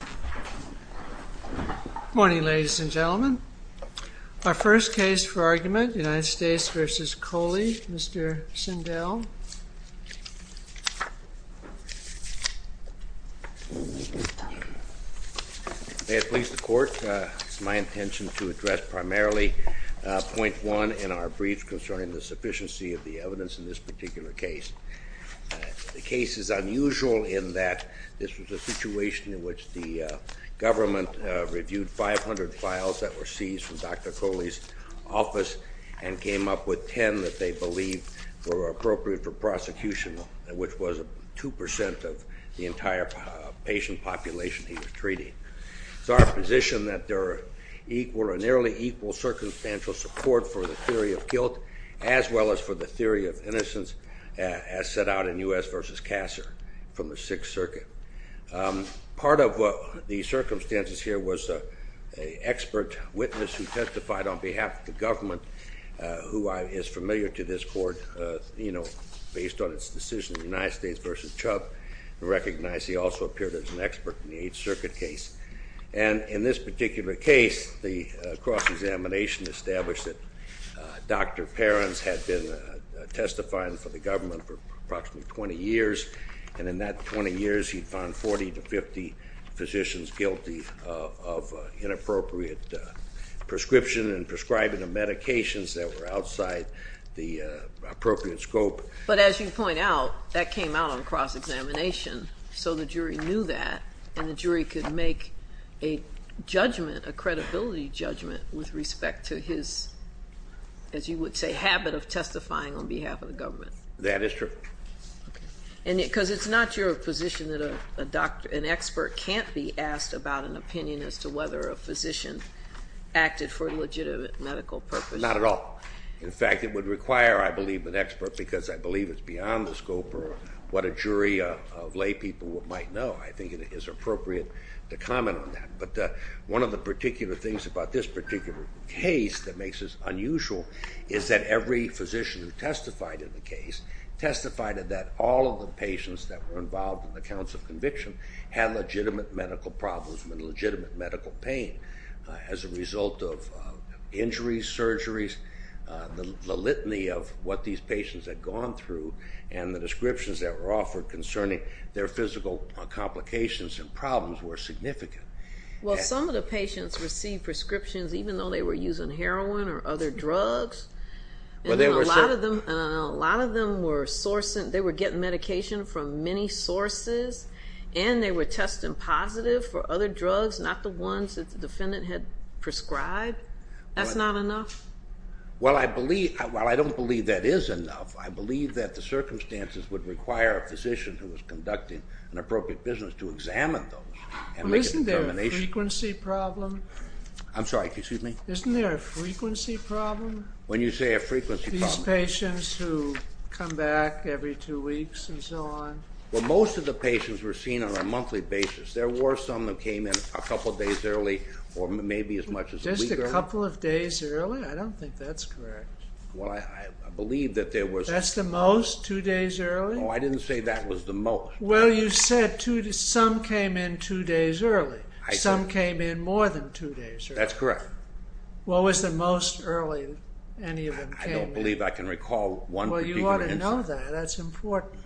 Good morning, ladies and gentlemen. Our first case for argument, United States v. Kohli, Mr. Sindel. May it please the Court, it's my intention to address primarily point one in our brief concerning the sufficiency of the evidence in this particular case. The case is unusual in that this was a situation in which the government reviewed 500 files that were seized from Dr. Kohli's office and came up with 10 that they believed were appropriate for prosecution, which was 2% of the entire patient population he was treating. It's our position that there are equal or nearly equal circumstantial support for the theory of guilt as well as for the theory of innocence as set out in U.S. v. Casser from the Sixth Circuit. Part of the circumstances here was an expert witness who testified on behalf of the government, who is familiar to this Court, you know, based on its decision in United States v. Chubb, who recognized he also appeared as an expert in the Eighth Circuit case. And in this particular case, the cross-examination established that Dr. Perens had been testifying for the government for approximately 20 years, and in that 20 years he found 40 to 50 physicians guilty of inappropriate prescription and prescribing of medications that were outside the appropriate scope. But as you point out, that came out on cross-examination, so the jury knew that, and the jury could make a judgment, a credibility judgment, with respect to his, as you would say, habit of testifying on behalf of the government. That is true. Because it's not your position that an expert can't be asked about an opinion as to whether a physician acted for a legitimate medical purpose. Not at all. In fact, it would require, I believe, an expert, because I believe it's beyond the scope of what a jury of laypeople might know. I think it is appropriate to comment on that. But one of the particular things about this particular case that makes this unusual is that every physician who testified in the case testified that all of the patients that were involved in the counts of conviction had legitimate medical problems and legitimate medical pain as a result of injuries, surgeries. The litany of what these patients had gone through and the descriptions that were offered concerning their physical complications and problems were significant. Well, some of the patients received prescriptions even though they were using heroin or other drugs, and a lot of them were sourcing, they were getting medication from many sources, and they were testing positive for other drugs, not the ones that the defendant had prescribed. That's not enough? Well, I believe, well, I don't believe that is enough. I believe that the circumstances would require a physician who was conducting an appropriate business to examine those. Well, isn't there a frequency problem? I'm sorry, excuse me? Isn't there a frequency problem? When you say a frequency problem? These patients who come back every two weeks and so on. Well, most of the patients were seen on a monthly basis. There were some that came in a couple of days early or maybe as much as a week early. Just a couple of days early? I don't think that's correct. Well, I believe that there was... That's the most, two days early? No, I didn't say that was the most. Well, you said some came in two days early. Some came in more than two days early. That's correct. What was the most early any of them came in? I don't believe I can recall one particular instance. Well, you ought to know that. That's important.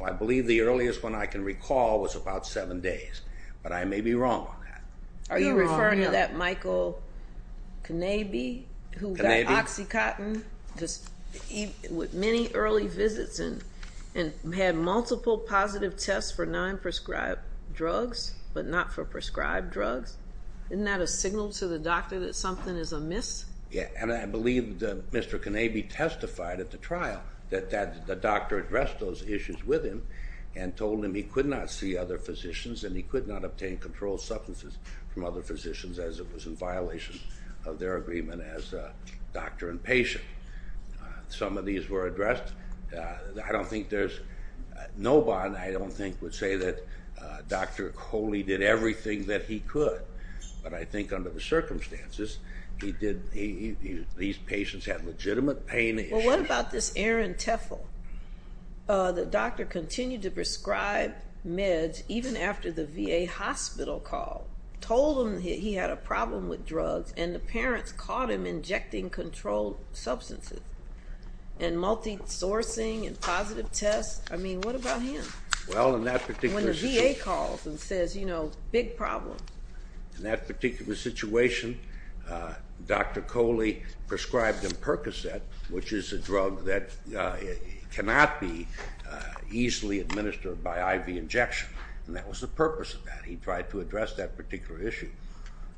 Well, I believe the earliest one I can recall was about seven days, but I may be wrong on that. Are you referring to that Michael Knabe who got OxyContin with many early visits and had multiple positive tests for non-prescribed drugs, but not for prescribed drugs? Isn't that a signal to the doctor that something is amiss? Yeah, and I believe that Mr. Knabe testified at the trial that the doctor addressed those issues with him and told him he could not see other physicians and he could not obtain controlled substances from other physicians as it was in violation of their agreement as doctor and patient. Some of these were addressed. I don't think there's... These patients had legitimate pain issues. Well, what about this Aaron Teffel? The doctor continued to prescribe meds even after the VA hospital called, told him he had a problem with drugs, and the parents caught him injecting controlled substances and multi-sourcing and positive tests. I mean, what about him? Well, in that particular situation... When the VA calls and says, you know, big problem. In that particular situation, Dr. Coley prescribed him Percocet, which is a drug that cannot be easily administered by IV injection, and that was the purpose of that. He tried to address that particular issue.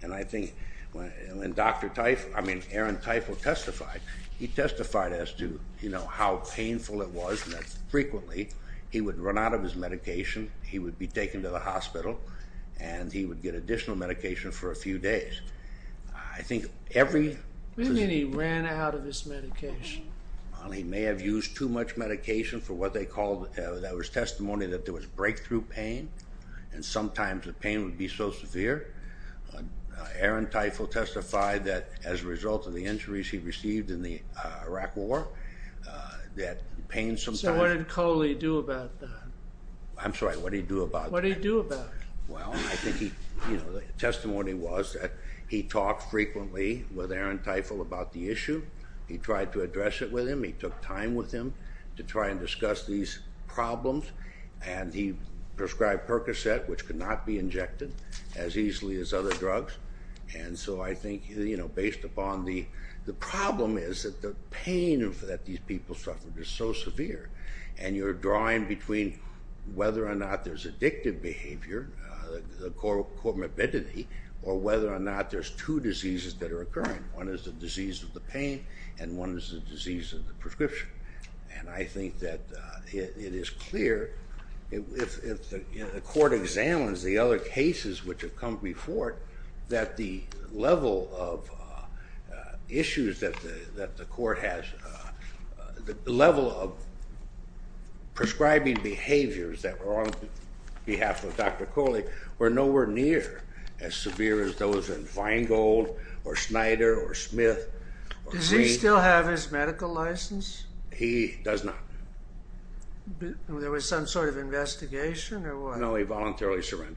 And I think when Dr. Teffel, I mean, Aaron Teffel testified, he testified as to, you know, how painful it was and that frequently he would run out of his medication, he would be taken to the hospital, and he would get additional medication for a few days. I think every... What do you mean he ran out of his medication? He may have used too much medication for what they called, that was testimony that there was breakthrough pain, and sometimes the pain would be so severe. Aaron Teffel testified that as a result of the injuries he received in the Iraq war, that pain sometimes... So what did Coley do about that? I'm sorry, what did he do about that? What did he do about it? Well, I think he, you know, the testimony was that he talked frequently with Aaron Teffel about the issue. He tried to address it with him. He took time with him to try and discuss these problems. And he prescribed Percocet, which could not be injected as easily as other drugs. And so I think, you know, based upon the problem is that the pain that these people suffered is so severe. And you're drawing between whether or not there's addictive behavior, the core morbidity, or whether or not there's two diseases that are occurring. One is the disease of the pain, and one is the disease of the prescription. And I think that it is clear, if the court examines the other cases which have come before it, that the level of issues that the court has, the level of prescribing behaviors that were on behalf of Dr. Coley, were nowhere near as severe as those in Feingold or Schneider or Smith. Does he still have his medical license? He does not. There was some sort of investigation or what? No, he voluntarily surrendered.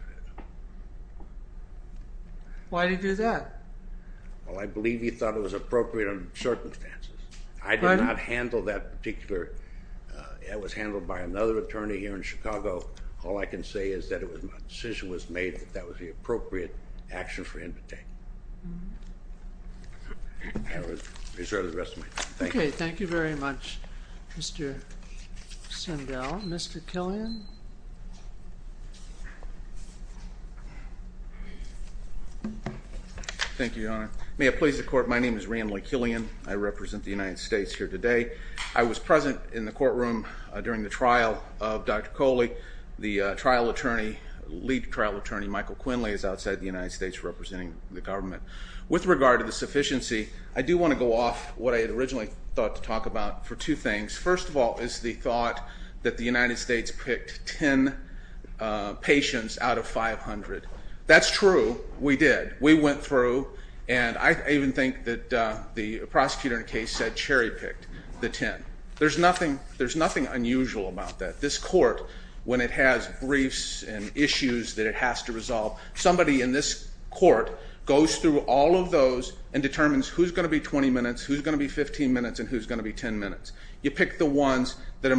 Why did he do that? Well, I believe he thought it was appropriate under the circumstances. I did not handle that particular, it was handled by another attorney here in Chicago. All I can say is that it was, my decision was made that that was the appropriate action for him to take. I will reserve the rest of my time. Okay, thank you very much, Mr. Sendell. Mr. Killian? Thank you, Your Honor. May it please the Court, my name is Randley Killian. I represent the United States here today. The trial attorney, lead trial attorney, Michael Quinley, is outside the United States representing the government. With regard to the sufficiency, I do want to go off what I originally thought to talk about for two things. First of all is the thought that the United States picked 10 patients out of 500. That's true, we did. We went through, and I even think that the prosecutor in the case said Cherry picked the 10. There's nothing unusual about that. This Court, when it has briefs and issues that it has to resolve, somebody in this Court goes through all of those and determines who's going to be 20 minutes, who's going to be 15 minutes, and who's going to be 10 minutes. You pick the ones that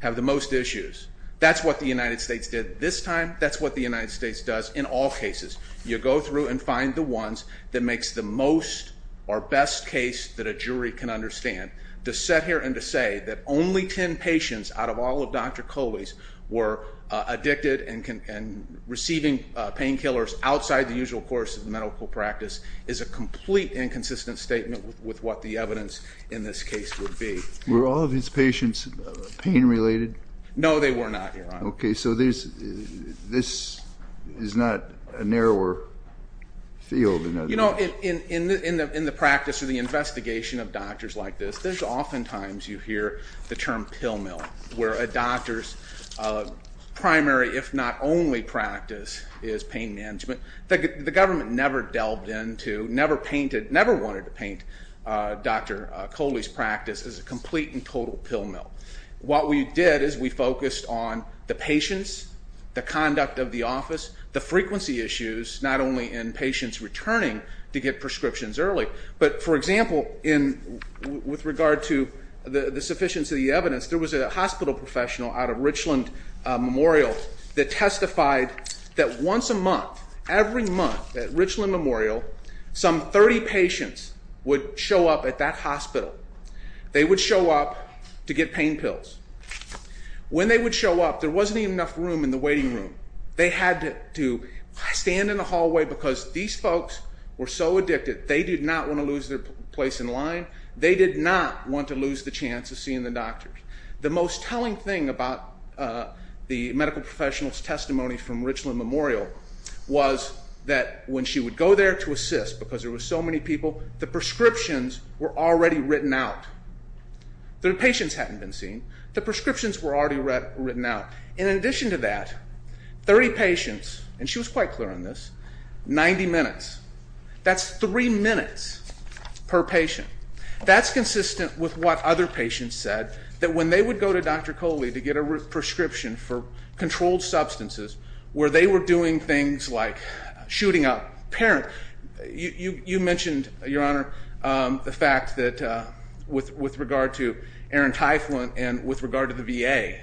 have the most issues. That's what the United States did this time. That's what the United States does in all cases. You go through and find the ones that makes the most or best case that a jury can understand. To sit here and to say that only 10 patients out of all of Dr. Coley's were addicted and receiving painkillers outside the usual course of the medical practice is a complete inconsistent statement with what the evidence in this case would be. Were all of his patients pain-related? No, they were not, Your Honor. Okay, so this is not a narrower field. You know, in the practice or the investigation of doctors like this, there's oftentimes you hear the term pill mill, where a doctor's primary, if not only practice, is pain management. The government never delved into, never painted, never wanted to paint Dr. Coley's practice as a complete and total pill mill. What we did is we focused on the patients, the conduct of the office, the frequency issues, not only in patients returning to get prescriptions early, but, for example, with regard to the sufficiency of the evidence, there was a hospital professional out of Richland Memorial that testified that once a month, every month at Richland Memorial, some 30 patients would show up at that hospital. They would show up to get pain pills. When they would show up, there wasn't even enough room in the waiting room. They had to stand in the hallway because these folks were so addicted, they did not want to lose their place in line. They did not want to lose the chance of seeing the doctors. The most telling thing about the medical professional's testimony from Richland Memorial was that when she would go there to assist, because there were so many people, the prescriptions were already written out. The patients hadn't been seen. The prescriptions were already written out. In addition to that, 30 patients, and she was quite clear on this, 90 minutes. That's three minutes per patient. That's consistent with what other patients said, that when they would go to Dr. Coley to get a prescription for controlled substances where they were doing things like shooting a parent. You mentioned, Your Honor, the fact that with regard to Aaron Tyflin and with regard to the VA,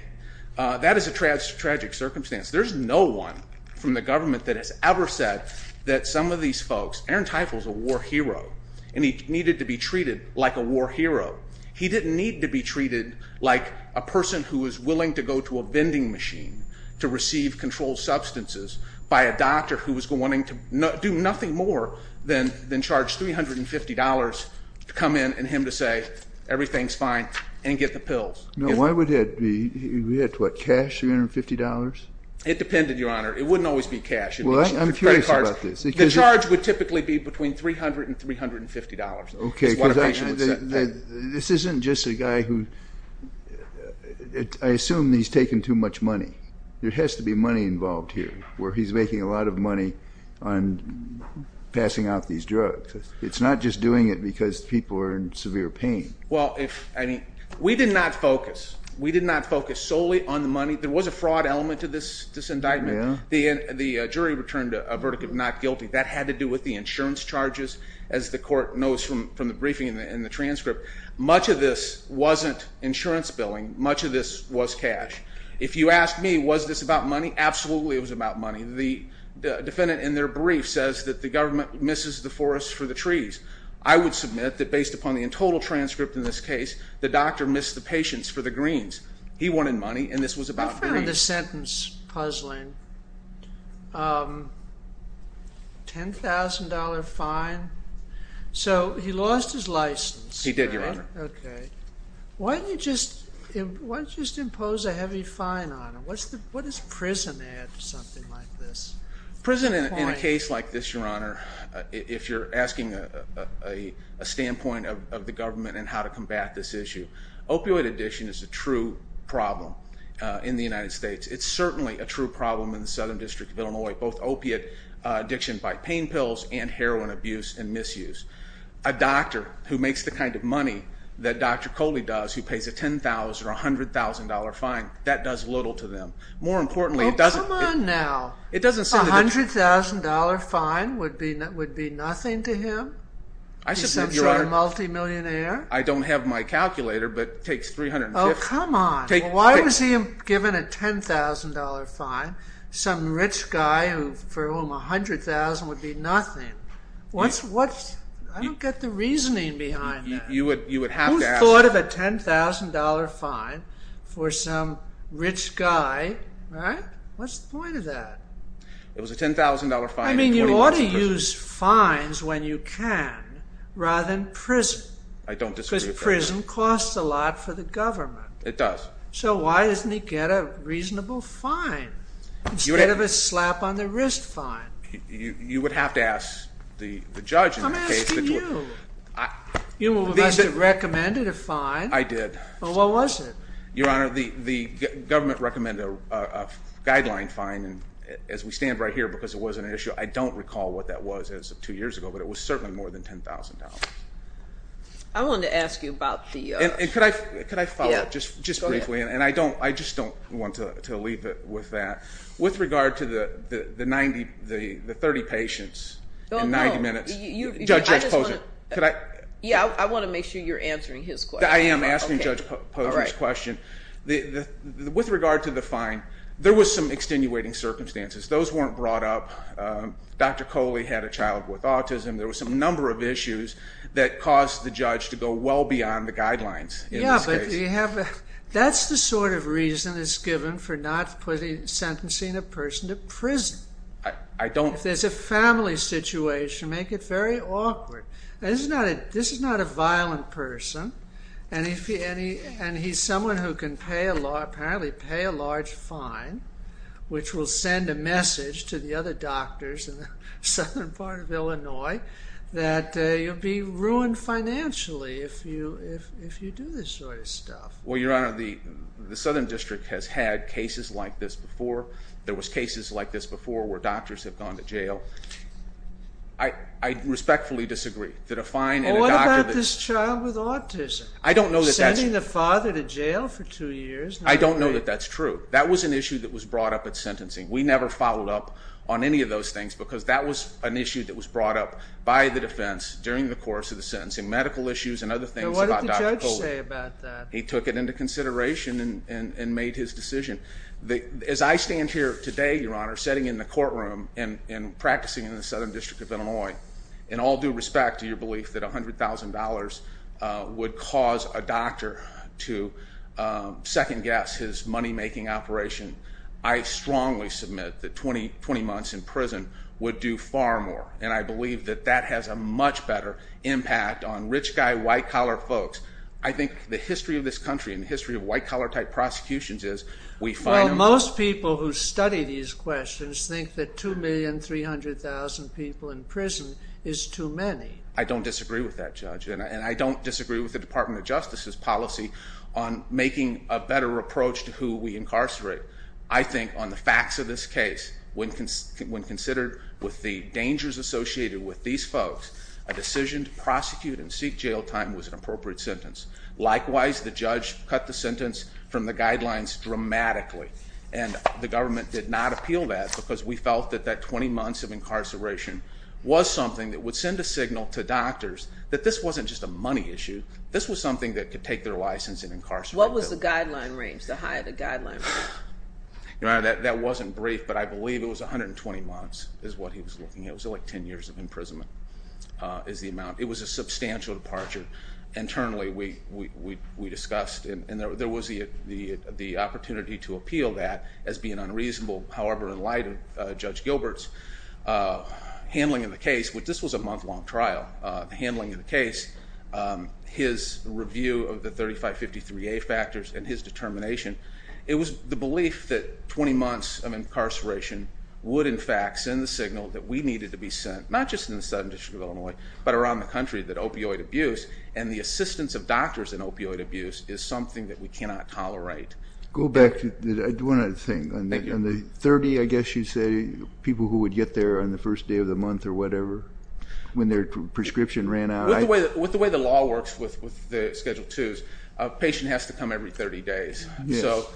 that is a tragic circumstance. There's no one from the government that has ever said that some of these folks, Aaron Tyflin's a war hero, and he needed to be treated like a war hero. He didn't need to be treated like a person who was willing to go to a vending machine to receive controlled substances by a doctor who was wanting to do nothing more than charge $350 to come in and him to say, everything's fine, and get the pills. Why would that be? He had cash, $350? It depended, Your Honor. It wouldn't always be cash. I'm curious about this. The charge would typically be between $300 and $350. This isn't just a guy who, I assume he's taken too much money. There has to be money involved here where he's making a lot of money on passing out these drugs. It's not just doing it because people are in severe pain. We did not focus. We did not focus solely on the money. There was a fraud element to this indictment. The jury returned a verdict of not guilty. That had to do with the insurance charges, as the court knows from the briefing and the transcript. Much of this wasn't insurance billing. Much of this was cash. If you ask me, was this about money, absolutely it was about money. The defendant in their brief says that the government misses the forest for the trees. I would submit that based upon the total transcript in this case, the doctor missed the patients for the greens. He wanted money, and this was about greens. I found this sentence puzzling. $10,000 fine? So he lost his license. He did, Your Honor. Okay. Why didn't you just impose a heavy fine on him? What does prison add to something like this? Prison in a case like this, Your Honor, if you're asking a standpoint of the government and how to combat this issue, opioid addiction is a true problem in the United States. It's certainly a true problem in the Southern District of Illinois, both opiate addiction by pain pills and heroin abuse and misuse. A doctor who makes the kind of money that Dr. Coley does, who pays a $10,000 or $100,000 fine, that does little to them. Well, come on now. A $100,000 fine would be nothing to him? He's some sort of multimillionaire? I don't have my calculator, but it takes $350. Oh, come on. Why was he given a $10,000 fine? Some rich guy for whom $100,000 would be nothing. I don't get the reasoning behind that. You would have to ask. You would have thought of a $10,000 fine for some rich guy, right? What's the point of that? It was a $10,000 fine and 20 months in prison. I mean, you ought to use fines when you can rather than prison. I don't disagree with that. Because prison costs a lot for the government. It does. So why doesn't he get a reasonable fine instead of a slap on the wrist fine? You would have to ask the judge in that case. I'm asking you. You must have recommended a fine. I did. Well, what was it? Your Honor, the government recommended a guideline fine. As we stand right here, because it was an issue, I don't recall what that was as of two years ago, but it was certainly more than $10,000. I wanted to ask you about the other. Could I follow up just briefly? And I just don't want to leave it with that. With regard to the 30 patients in 90 minutes. Judge Posner. Yeah, I want to make sure you're answering his question. I am asking Judge Posner's question. With regard to the fine, there was some extenuating circumstances. Those weren't brought up. Dr. Coley had a child with autism. There was a number of issues that caused the judge to go well beyond the guidelines. Yeah, but that's the sort of reason that's given for not sentencing a person to prison. I don't. If there's a family situation, make it very awkward. This is not a violent person, and he's someone who can apparently pay a large fine, which will send a message to the other doctors in the southern part of Illinois that you'll be ruined financially if you do this sort of stuff. Well, Your Honor, the southern district has had cases like this before. There was cases like this before where doctors have gone to jail. I respectfully disagree. What about this child with autism? I don't know that that's true. Sending the father to jail for two years. I don't know that that's true. That was an issue that was brought up at sentencing. We never followed up on any of those things because that was an issue that was brought up by the defense during the course of the sentencing, medical issues and other things about Dr. Coley. What did the judge say about that? He took it into consideration and made his decision. As I stand here today, Your Honor, sitting in the courtroom and practicing in the southern district of Illinois, in all due respect to your belief that $100,000 would cause a doctor to second-guess his money-making operation, I strongly submit that 20 months in prison would do far more, and I believe that that has a much better impact on rich guy, white-collar folks. I think the history of this country and the history of white-collar-type prosecutions is we find them... Well, most people who study these questions think that 2,300,000 people in prison is too many. I don't disagree with that, Judge, and I don't disagree with the Department of Justice's policy on making a better approach to who we incarcerate. I think on the facts of this case, when considered with the dangers associated with these folks, a decision to prosecute and seek jail time was an appropriate sentence. Likewise, the judge cut the sentence from the guidelines dramatically, and the government did not appeal that because we felt that that 20 months of incarceration was something that would send a signal to doctors that this wasn't just a money issue. This was something that could take their license and incarcerate them. What was the guideline range, the high of the guideline range? Your Honor, that wasn't brief, but I believe it was 120 months is what he was looking at. It was like 10 years of imprisonment is the amount. It was a substantial departure. Internally, we discussed, and there was the opportunity to appeal that as being unreasonable. However, in light of Judge Gilbert's handling of the case, which this was a month-long trial, the handling of the case, his review of the 3553A factors, and his determination, it was the belief that 20 months of incarceration would, in fact, send the signal that we needed to be sent, not just in the Southern District of Illinois, but around the country, that opioid abuse and the assistance of doctors in opioid abuse is something that we cannot tolerate. Go back to one other thing. On the 30, I guess you'd say, people who would get there on the first day of the month or whatever when their prescription ran out? With the way the law works with the Schedule IIs, a patient has to come every 30 days. So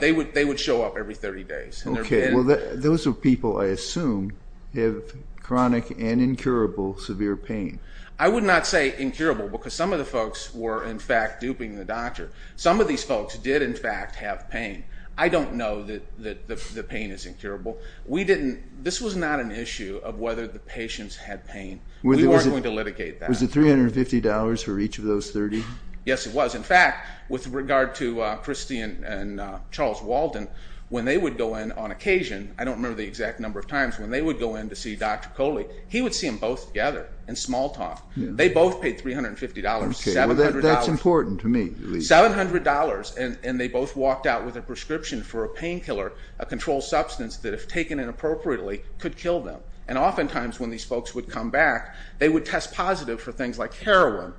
they would show up every 30 days. Okay, well, those are people, I assume, who have chronic and incurable severe pain. I would not say incurable, because some of the folks were, in fact, duping the doctor. Some of these folks did, in fact, have pain. I don't know that the pain is incurable. We didn't... This was not an issue of whether the patients had pain. We weren't going to litigate that. Was it $350 for each of those 30? Yes, it was. In fact, with regard to Christy and Charles Walton, when they would go in on occasion, I don't remember the exact number of times, when they would go in to see Dr. Coley, he would see them both together in small talk. They both paid $350. Okay, well, that's important to me. $700, and they both walked out with a prescription for a painkiller, a controlled substance that, if taken inappropriately, could kill them. And oftentimes, when these folks would come back, they would test positive for things like heroin.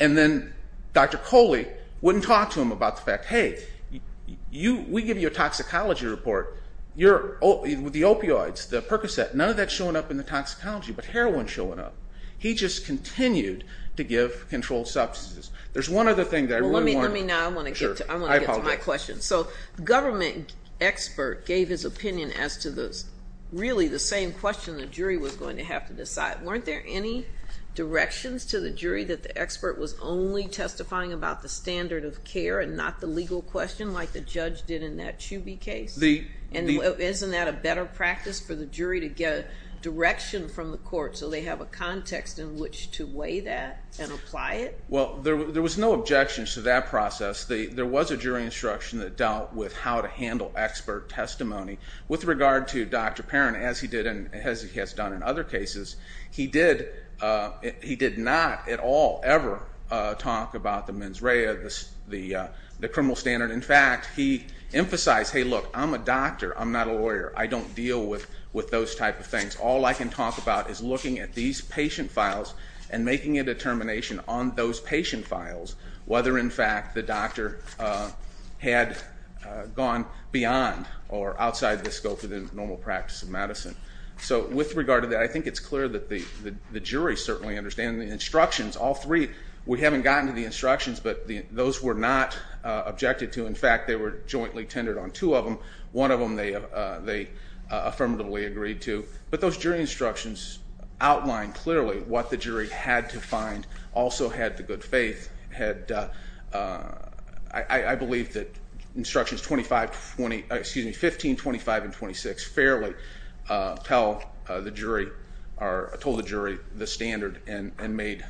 And then Dr. Coley wouldn't talk to him about the fact, hey, we give you a toxicology report. With the opioids, the Percocet, none of that's showing up in the toxicology, but heroin's showing up. He just continued to give controlled substances. There's one other thing that I really want to... Well, let me now. I want to get to my question. So the government expert gave his opinion as to really the same question the jury was going to have to decide. Weren't there any directions to the jury that the expert was only testifying about the standard of care and not the legal question like the judge did in that Chuby case? And isn't that a better practice for the jury to get direction from the court so they have a context in which to weigh that and apply it? Well, there was no objections to that process. There was a jury instruction that dealt with how to handle expert testimony. With regard to Dr. Perrin, as he has done in other cases, he did not at all ever talk about the mens rea, the criminal standard. In fact, he emphasized, hey, look, I'm a doctor, I'm not a lawyer. I don't deal with those type of things. All I can talk about is looking at these patient files and making a determination on those patient files whether, in fact, the doctor had gone beyond or outside the scope of the normal practice of medicine. So with regard to that, I think it's clear that the jury certainly understands. The instructions, all three, we haven't gotten to the instructions, but those were not objected to. In fact, they were jointly tendered on. Two of them, one of them they affirmatively agreed to. But those jury instructions outlined clearly what the jury had to find also had the good faith, had I believe that instructions 15, 25, and 26 fairly told the jury the standard and made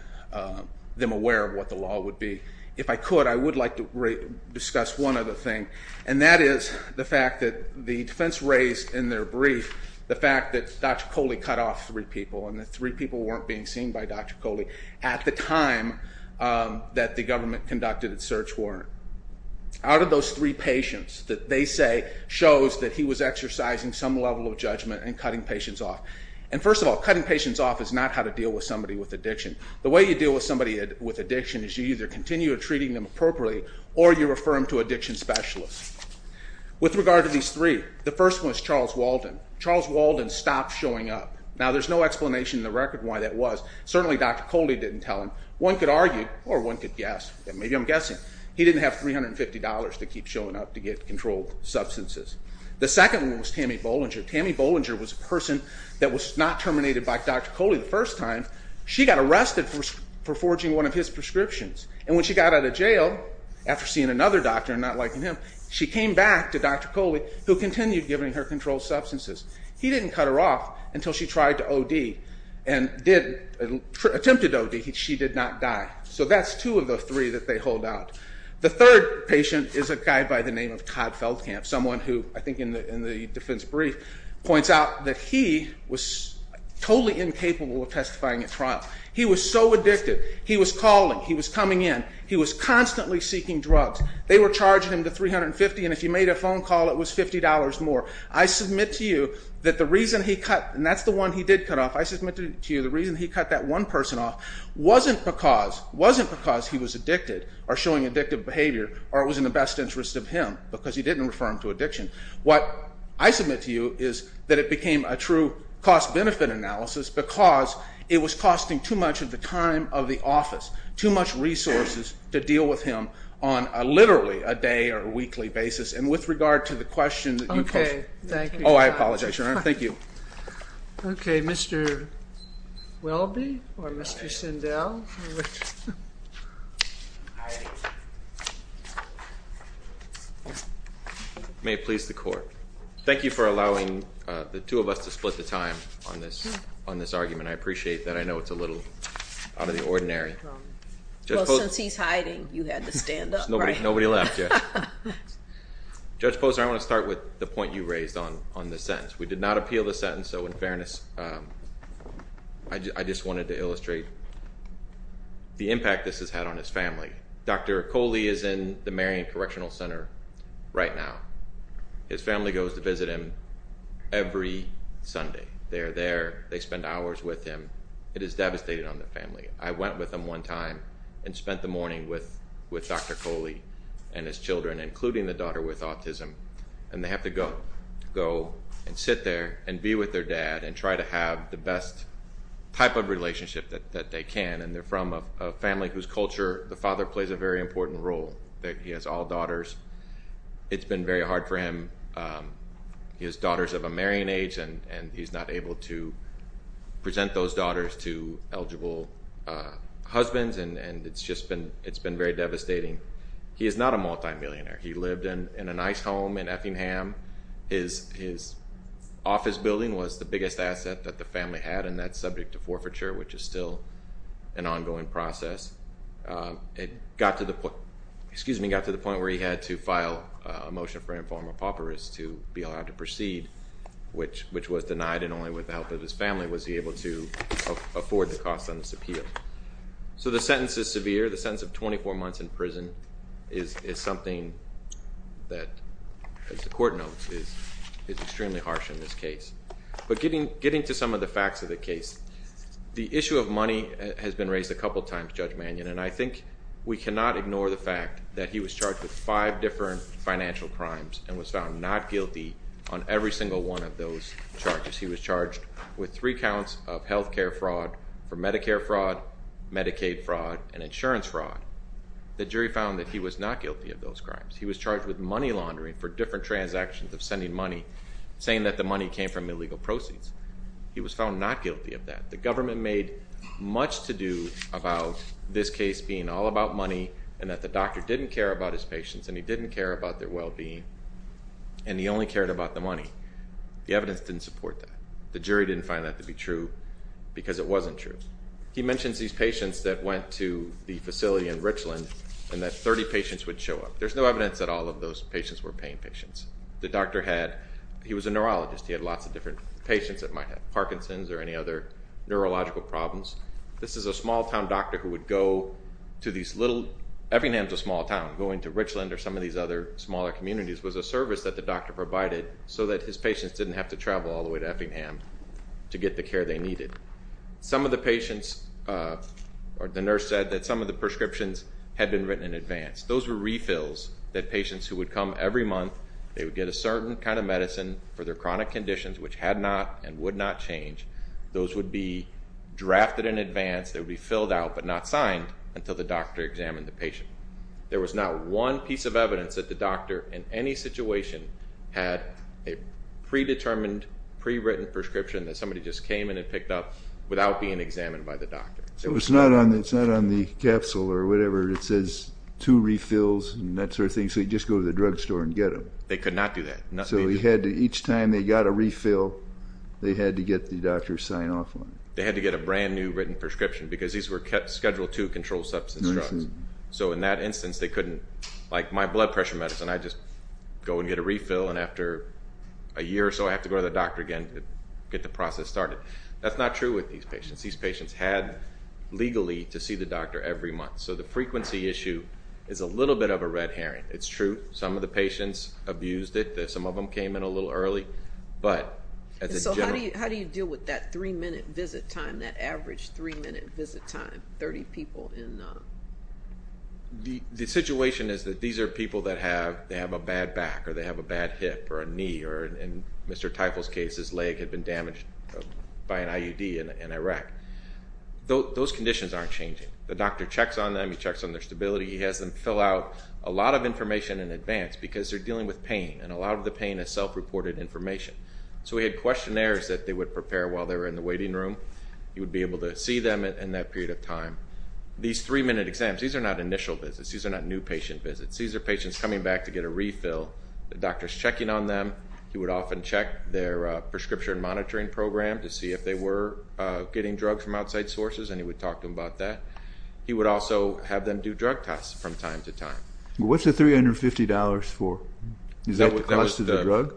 them aware of what the law would be. If I could, I would like to discuss one other thing, and that is the fact that the defense raised in their brief the fact that Dr. Coley cut off three people and that three people weren't being seen by Dr. Coley at the time that the government conducted its search warrant. Out of those three patients that they say shows that he was exercising some level of judgment and cutting patients off. And first of all, cutting patients off is not how to deal with somebody with addiction. The way you deal with somebody with addiction is you either continue treating them appropriately or you refer them to addiction specialists. With regard to these three, the first one is Charles Walden. Charles Walden stopped showing up. Now there's no explanation in the record why that was. Certainly Dr. Coley didn't tell him. One could argue, or one could guess. Maybe I'm guessing. He didn't have $350 to keep showing up to get controlled substances. The second one was Tammy Bollinger. Tammy Bollinger was a person that was not terminated by Dr. Coley the first time. She got arrested for forging one of his prescriptions. And when she got out of jail, after seeing another doctor not liking him, she came back to Dr. Coley who continued giving her controlled substances. He didn't cut her off until she tried to OD and attempted OD. She did not die. So that's two of the three that they hold out. The third patient is a guy by the name of Todd Feldkamp, someone who I think in the defense brief points out that he was totally incapable of testifying at trial. He was so addicted. He was calling. He was coming in. He was constantly seeking drugs. They were charging him the $350, and if he made a phone call it was $50 more. I submit to you that the reason he cut, and that's the one he did cut off, I submit to you the reason he cut that one person off wasn't because he was addicted or showing addictive behavior or it was in the best interest of him because he didn't refer him to addiction. What I submit to you is that it became a true cost-benefit analysis because it was costing too much of the time of the office, too much resources to deal with him on literally a day or a weekly basis. And with regard to the question that you posed... Okay, thank you. Oh, I apologize, Your Honor. Thank you. Okay, Mr. Welby or Mr. Sindel. All right. May it please the Court. Thank you for allowing the two of us to split the time on this argument. I appreciate that. I know it's a little out of the ordinary. Well, since he's hiding, you had to stand up. Nobody left yet. Judge Posner, I want to start with the point you raised on the sentence. We did not appeal the sentence, so in fairness, I just wanted to illustrate the impact this has had on his family. Dr. Coley is in the Marion Correctional Center right now. His family goes to visit him every Sunday. They're there. They spend hours with him. It has devastated on the family. I went with him one time and spent the morning with Dr. Coley and his children, including the daughter with autism, and they have to go and sit there and be with their dad and try to have the best type of relationship that they can, and they're from a family whose culture, the father plays a very important role. He has all daughters. It's been very hard for him. He has daughters of a marrying age, and he's not able to present those daughters to eligible husbands, and it's just been very devastating. He is not a multimillionaire. He lived in a nice home in Effingham. His office building was the biggest asset that the family had, and that's subject to forfeiture, which is still an ongoing process. It got to the point where he had to file a motion for informal paupers to be allowed to proceed, which was denied, and only with the help of his family was he able to afford the cost on this appeal. So the sentence is severe. The sentence of 24 months in prison is something that, as the court notes, is extremely harsh in this case. But getting to some of the facts of the case, the issue of money has been raised a couple of times, Judge Mannion, and I think we cannot ignore the fact that he was charged with five different financial crimes and was found not guilty on every single one of those charges. He was charged with three counts of health care fraud, for Medicare fraud, Medicaid fraud, and insurance fraud. The jury found that he was not guilty of those crimes. He was charged with money laundering for different transactions of sending money, saying that the money came from illegal proceeds. He was found not guilty of that. The government made much to do about this case being all about money and that the doctor didn't care about his patients and he didn't care about their well-being, and he only cared about the money. The evidence didn't support that. The jury didn't find that to be true because it wasn't true. He mentions these patients that went to the facility in Richland and that 30 patients would show up. There's no evidence that all of those patients were paying patients. The doctor had ñ he was a neurologist. He had lots of different patients that might have Parkinson's or any other neurological problems. This is a small-town doctor who would go to these little ñ Effingham's a small town. Going to Richland or some of these other smaller communities was a service that the doctor provided so that his patients didn't have to travel all the way to Effingham to get the care they needed. Some of the patients ñ or the nurse said that some of the prescriptions had been written in advance. Those were refills that patients who would come every month, they would get a certain kind of medicine for their chronic conditions which had not and would not change. Those would be drafted in advance. They would be filled out but not signed until the doctor examined the patient. There was not one piece of evidence that the doctor in any situation had a predetermined, pre-written prescription that somebody just came in and picked up without being examined by the doctor. So it's not on the capsule or whatever. It says two refills and that sort of thing, so you just go to the drugstore and get them. They could not do that. So each time they got a refill, they had to get the doctor to sign off on it. They had to get a brand-new written prescription because these were Schedule II controlled substance drugs. So in that instance, they couldn't ñ like my blood pressure medicine, I'd just go and get a refill and after a year or so, I'd have to go to the doctor again to get the process started. That's not true with these patients. These patients had legally to see the doctor every month. So the frequency issue is a little bit of a red herring. It's true. Some of the patients abused it. Some of them came in a little early. So how do you deal with that three-minute visit time, that average three-minute visit time, 30 people in? The situation is that these are people that have a bad back or they have a bad hip or a knee, or in Mr. Teufel's case, his leg had been damaged by an IUD in Iraq. Those conditions aren't changing. The doctor checks on them. He checks on their stability. He has them fill out a lot of information in advance because they're dealing with pain, and a lot of the pain is self-reported information. So we had questionnaires that they would prepare while they were in the waiting room. You would be able to see them in that period of time. These three-minute exams, these are not initial visits. These are not new patient visits. He sees their patients coming back to get a refill. The doctor is checking on them. He would often check their prescription monitoring program to see if they were getting drugs from outside sources, and he would talk to them about that. He would also have them do drug tests from time to time. What's the $350 for? Is that the cost of the drug?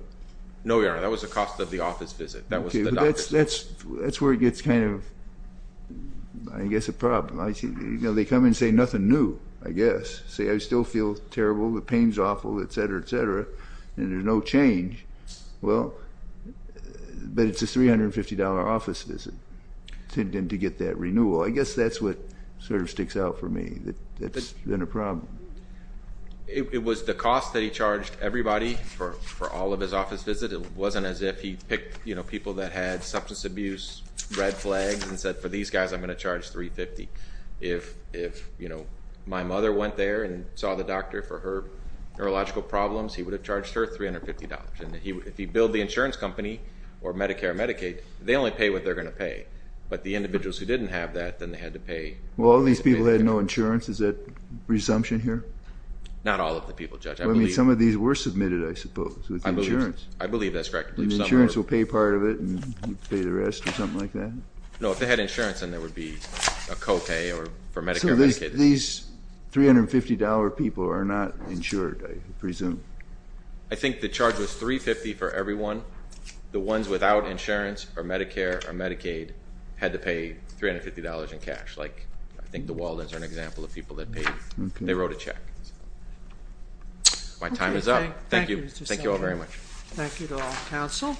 No, Your Honor, that was the cost of the office visit. That's where it gets kind of, I guess, a problem. They come in and say nothing new, I guess. Say I still feel terrible, the pain's awful, et cetera, et cetera, and there's no change. Well, but it's a $350 office visit to get that renewal. I guess that's what sort of sticks out for me. That's been a problem. It was the cost that he charged everybody for all of his office visits. It wasn't as if he picked people that had substance abuse, red flags, and said, For these guys, I'm going to charge $350. If my mother went there and saw the doctor for her neurological problems, he would have charged her $350. If he billed the insurance company or Medicare or Medicaid, they only pay what they're going to pay. But the individuals who didn't have that, then they had to pay. Well, all these people had no insurance. Is that resumption here? Not all of the people, Judge. Some of these were submitted, I suppose, with insurance. I believe that's correct. Insurance will pay part of it and pay the rest or something like that? No, if they had insurance, then there would be a co-pay for Medicare or Medicaid. So these $350 people are not insured, I presume. I think the charge was $350 for everyone. The ones without insurance or Medicare or Medicaid had to pay $350 in cash. I think the Waldens are an example of people that paid. They wrote a check. My time is up. Thank you. Thank you all very much. Thank you to all the council.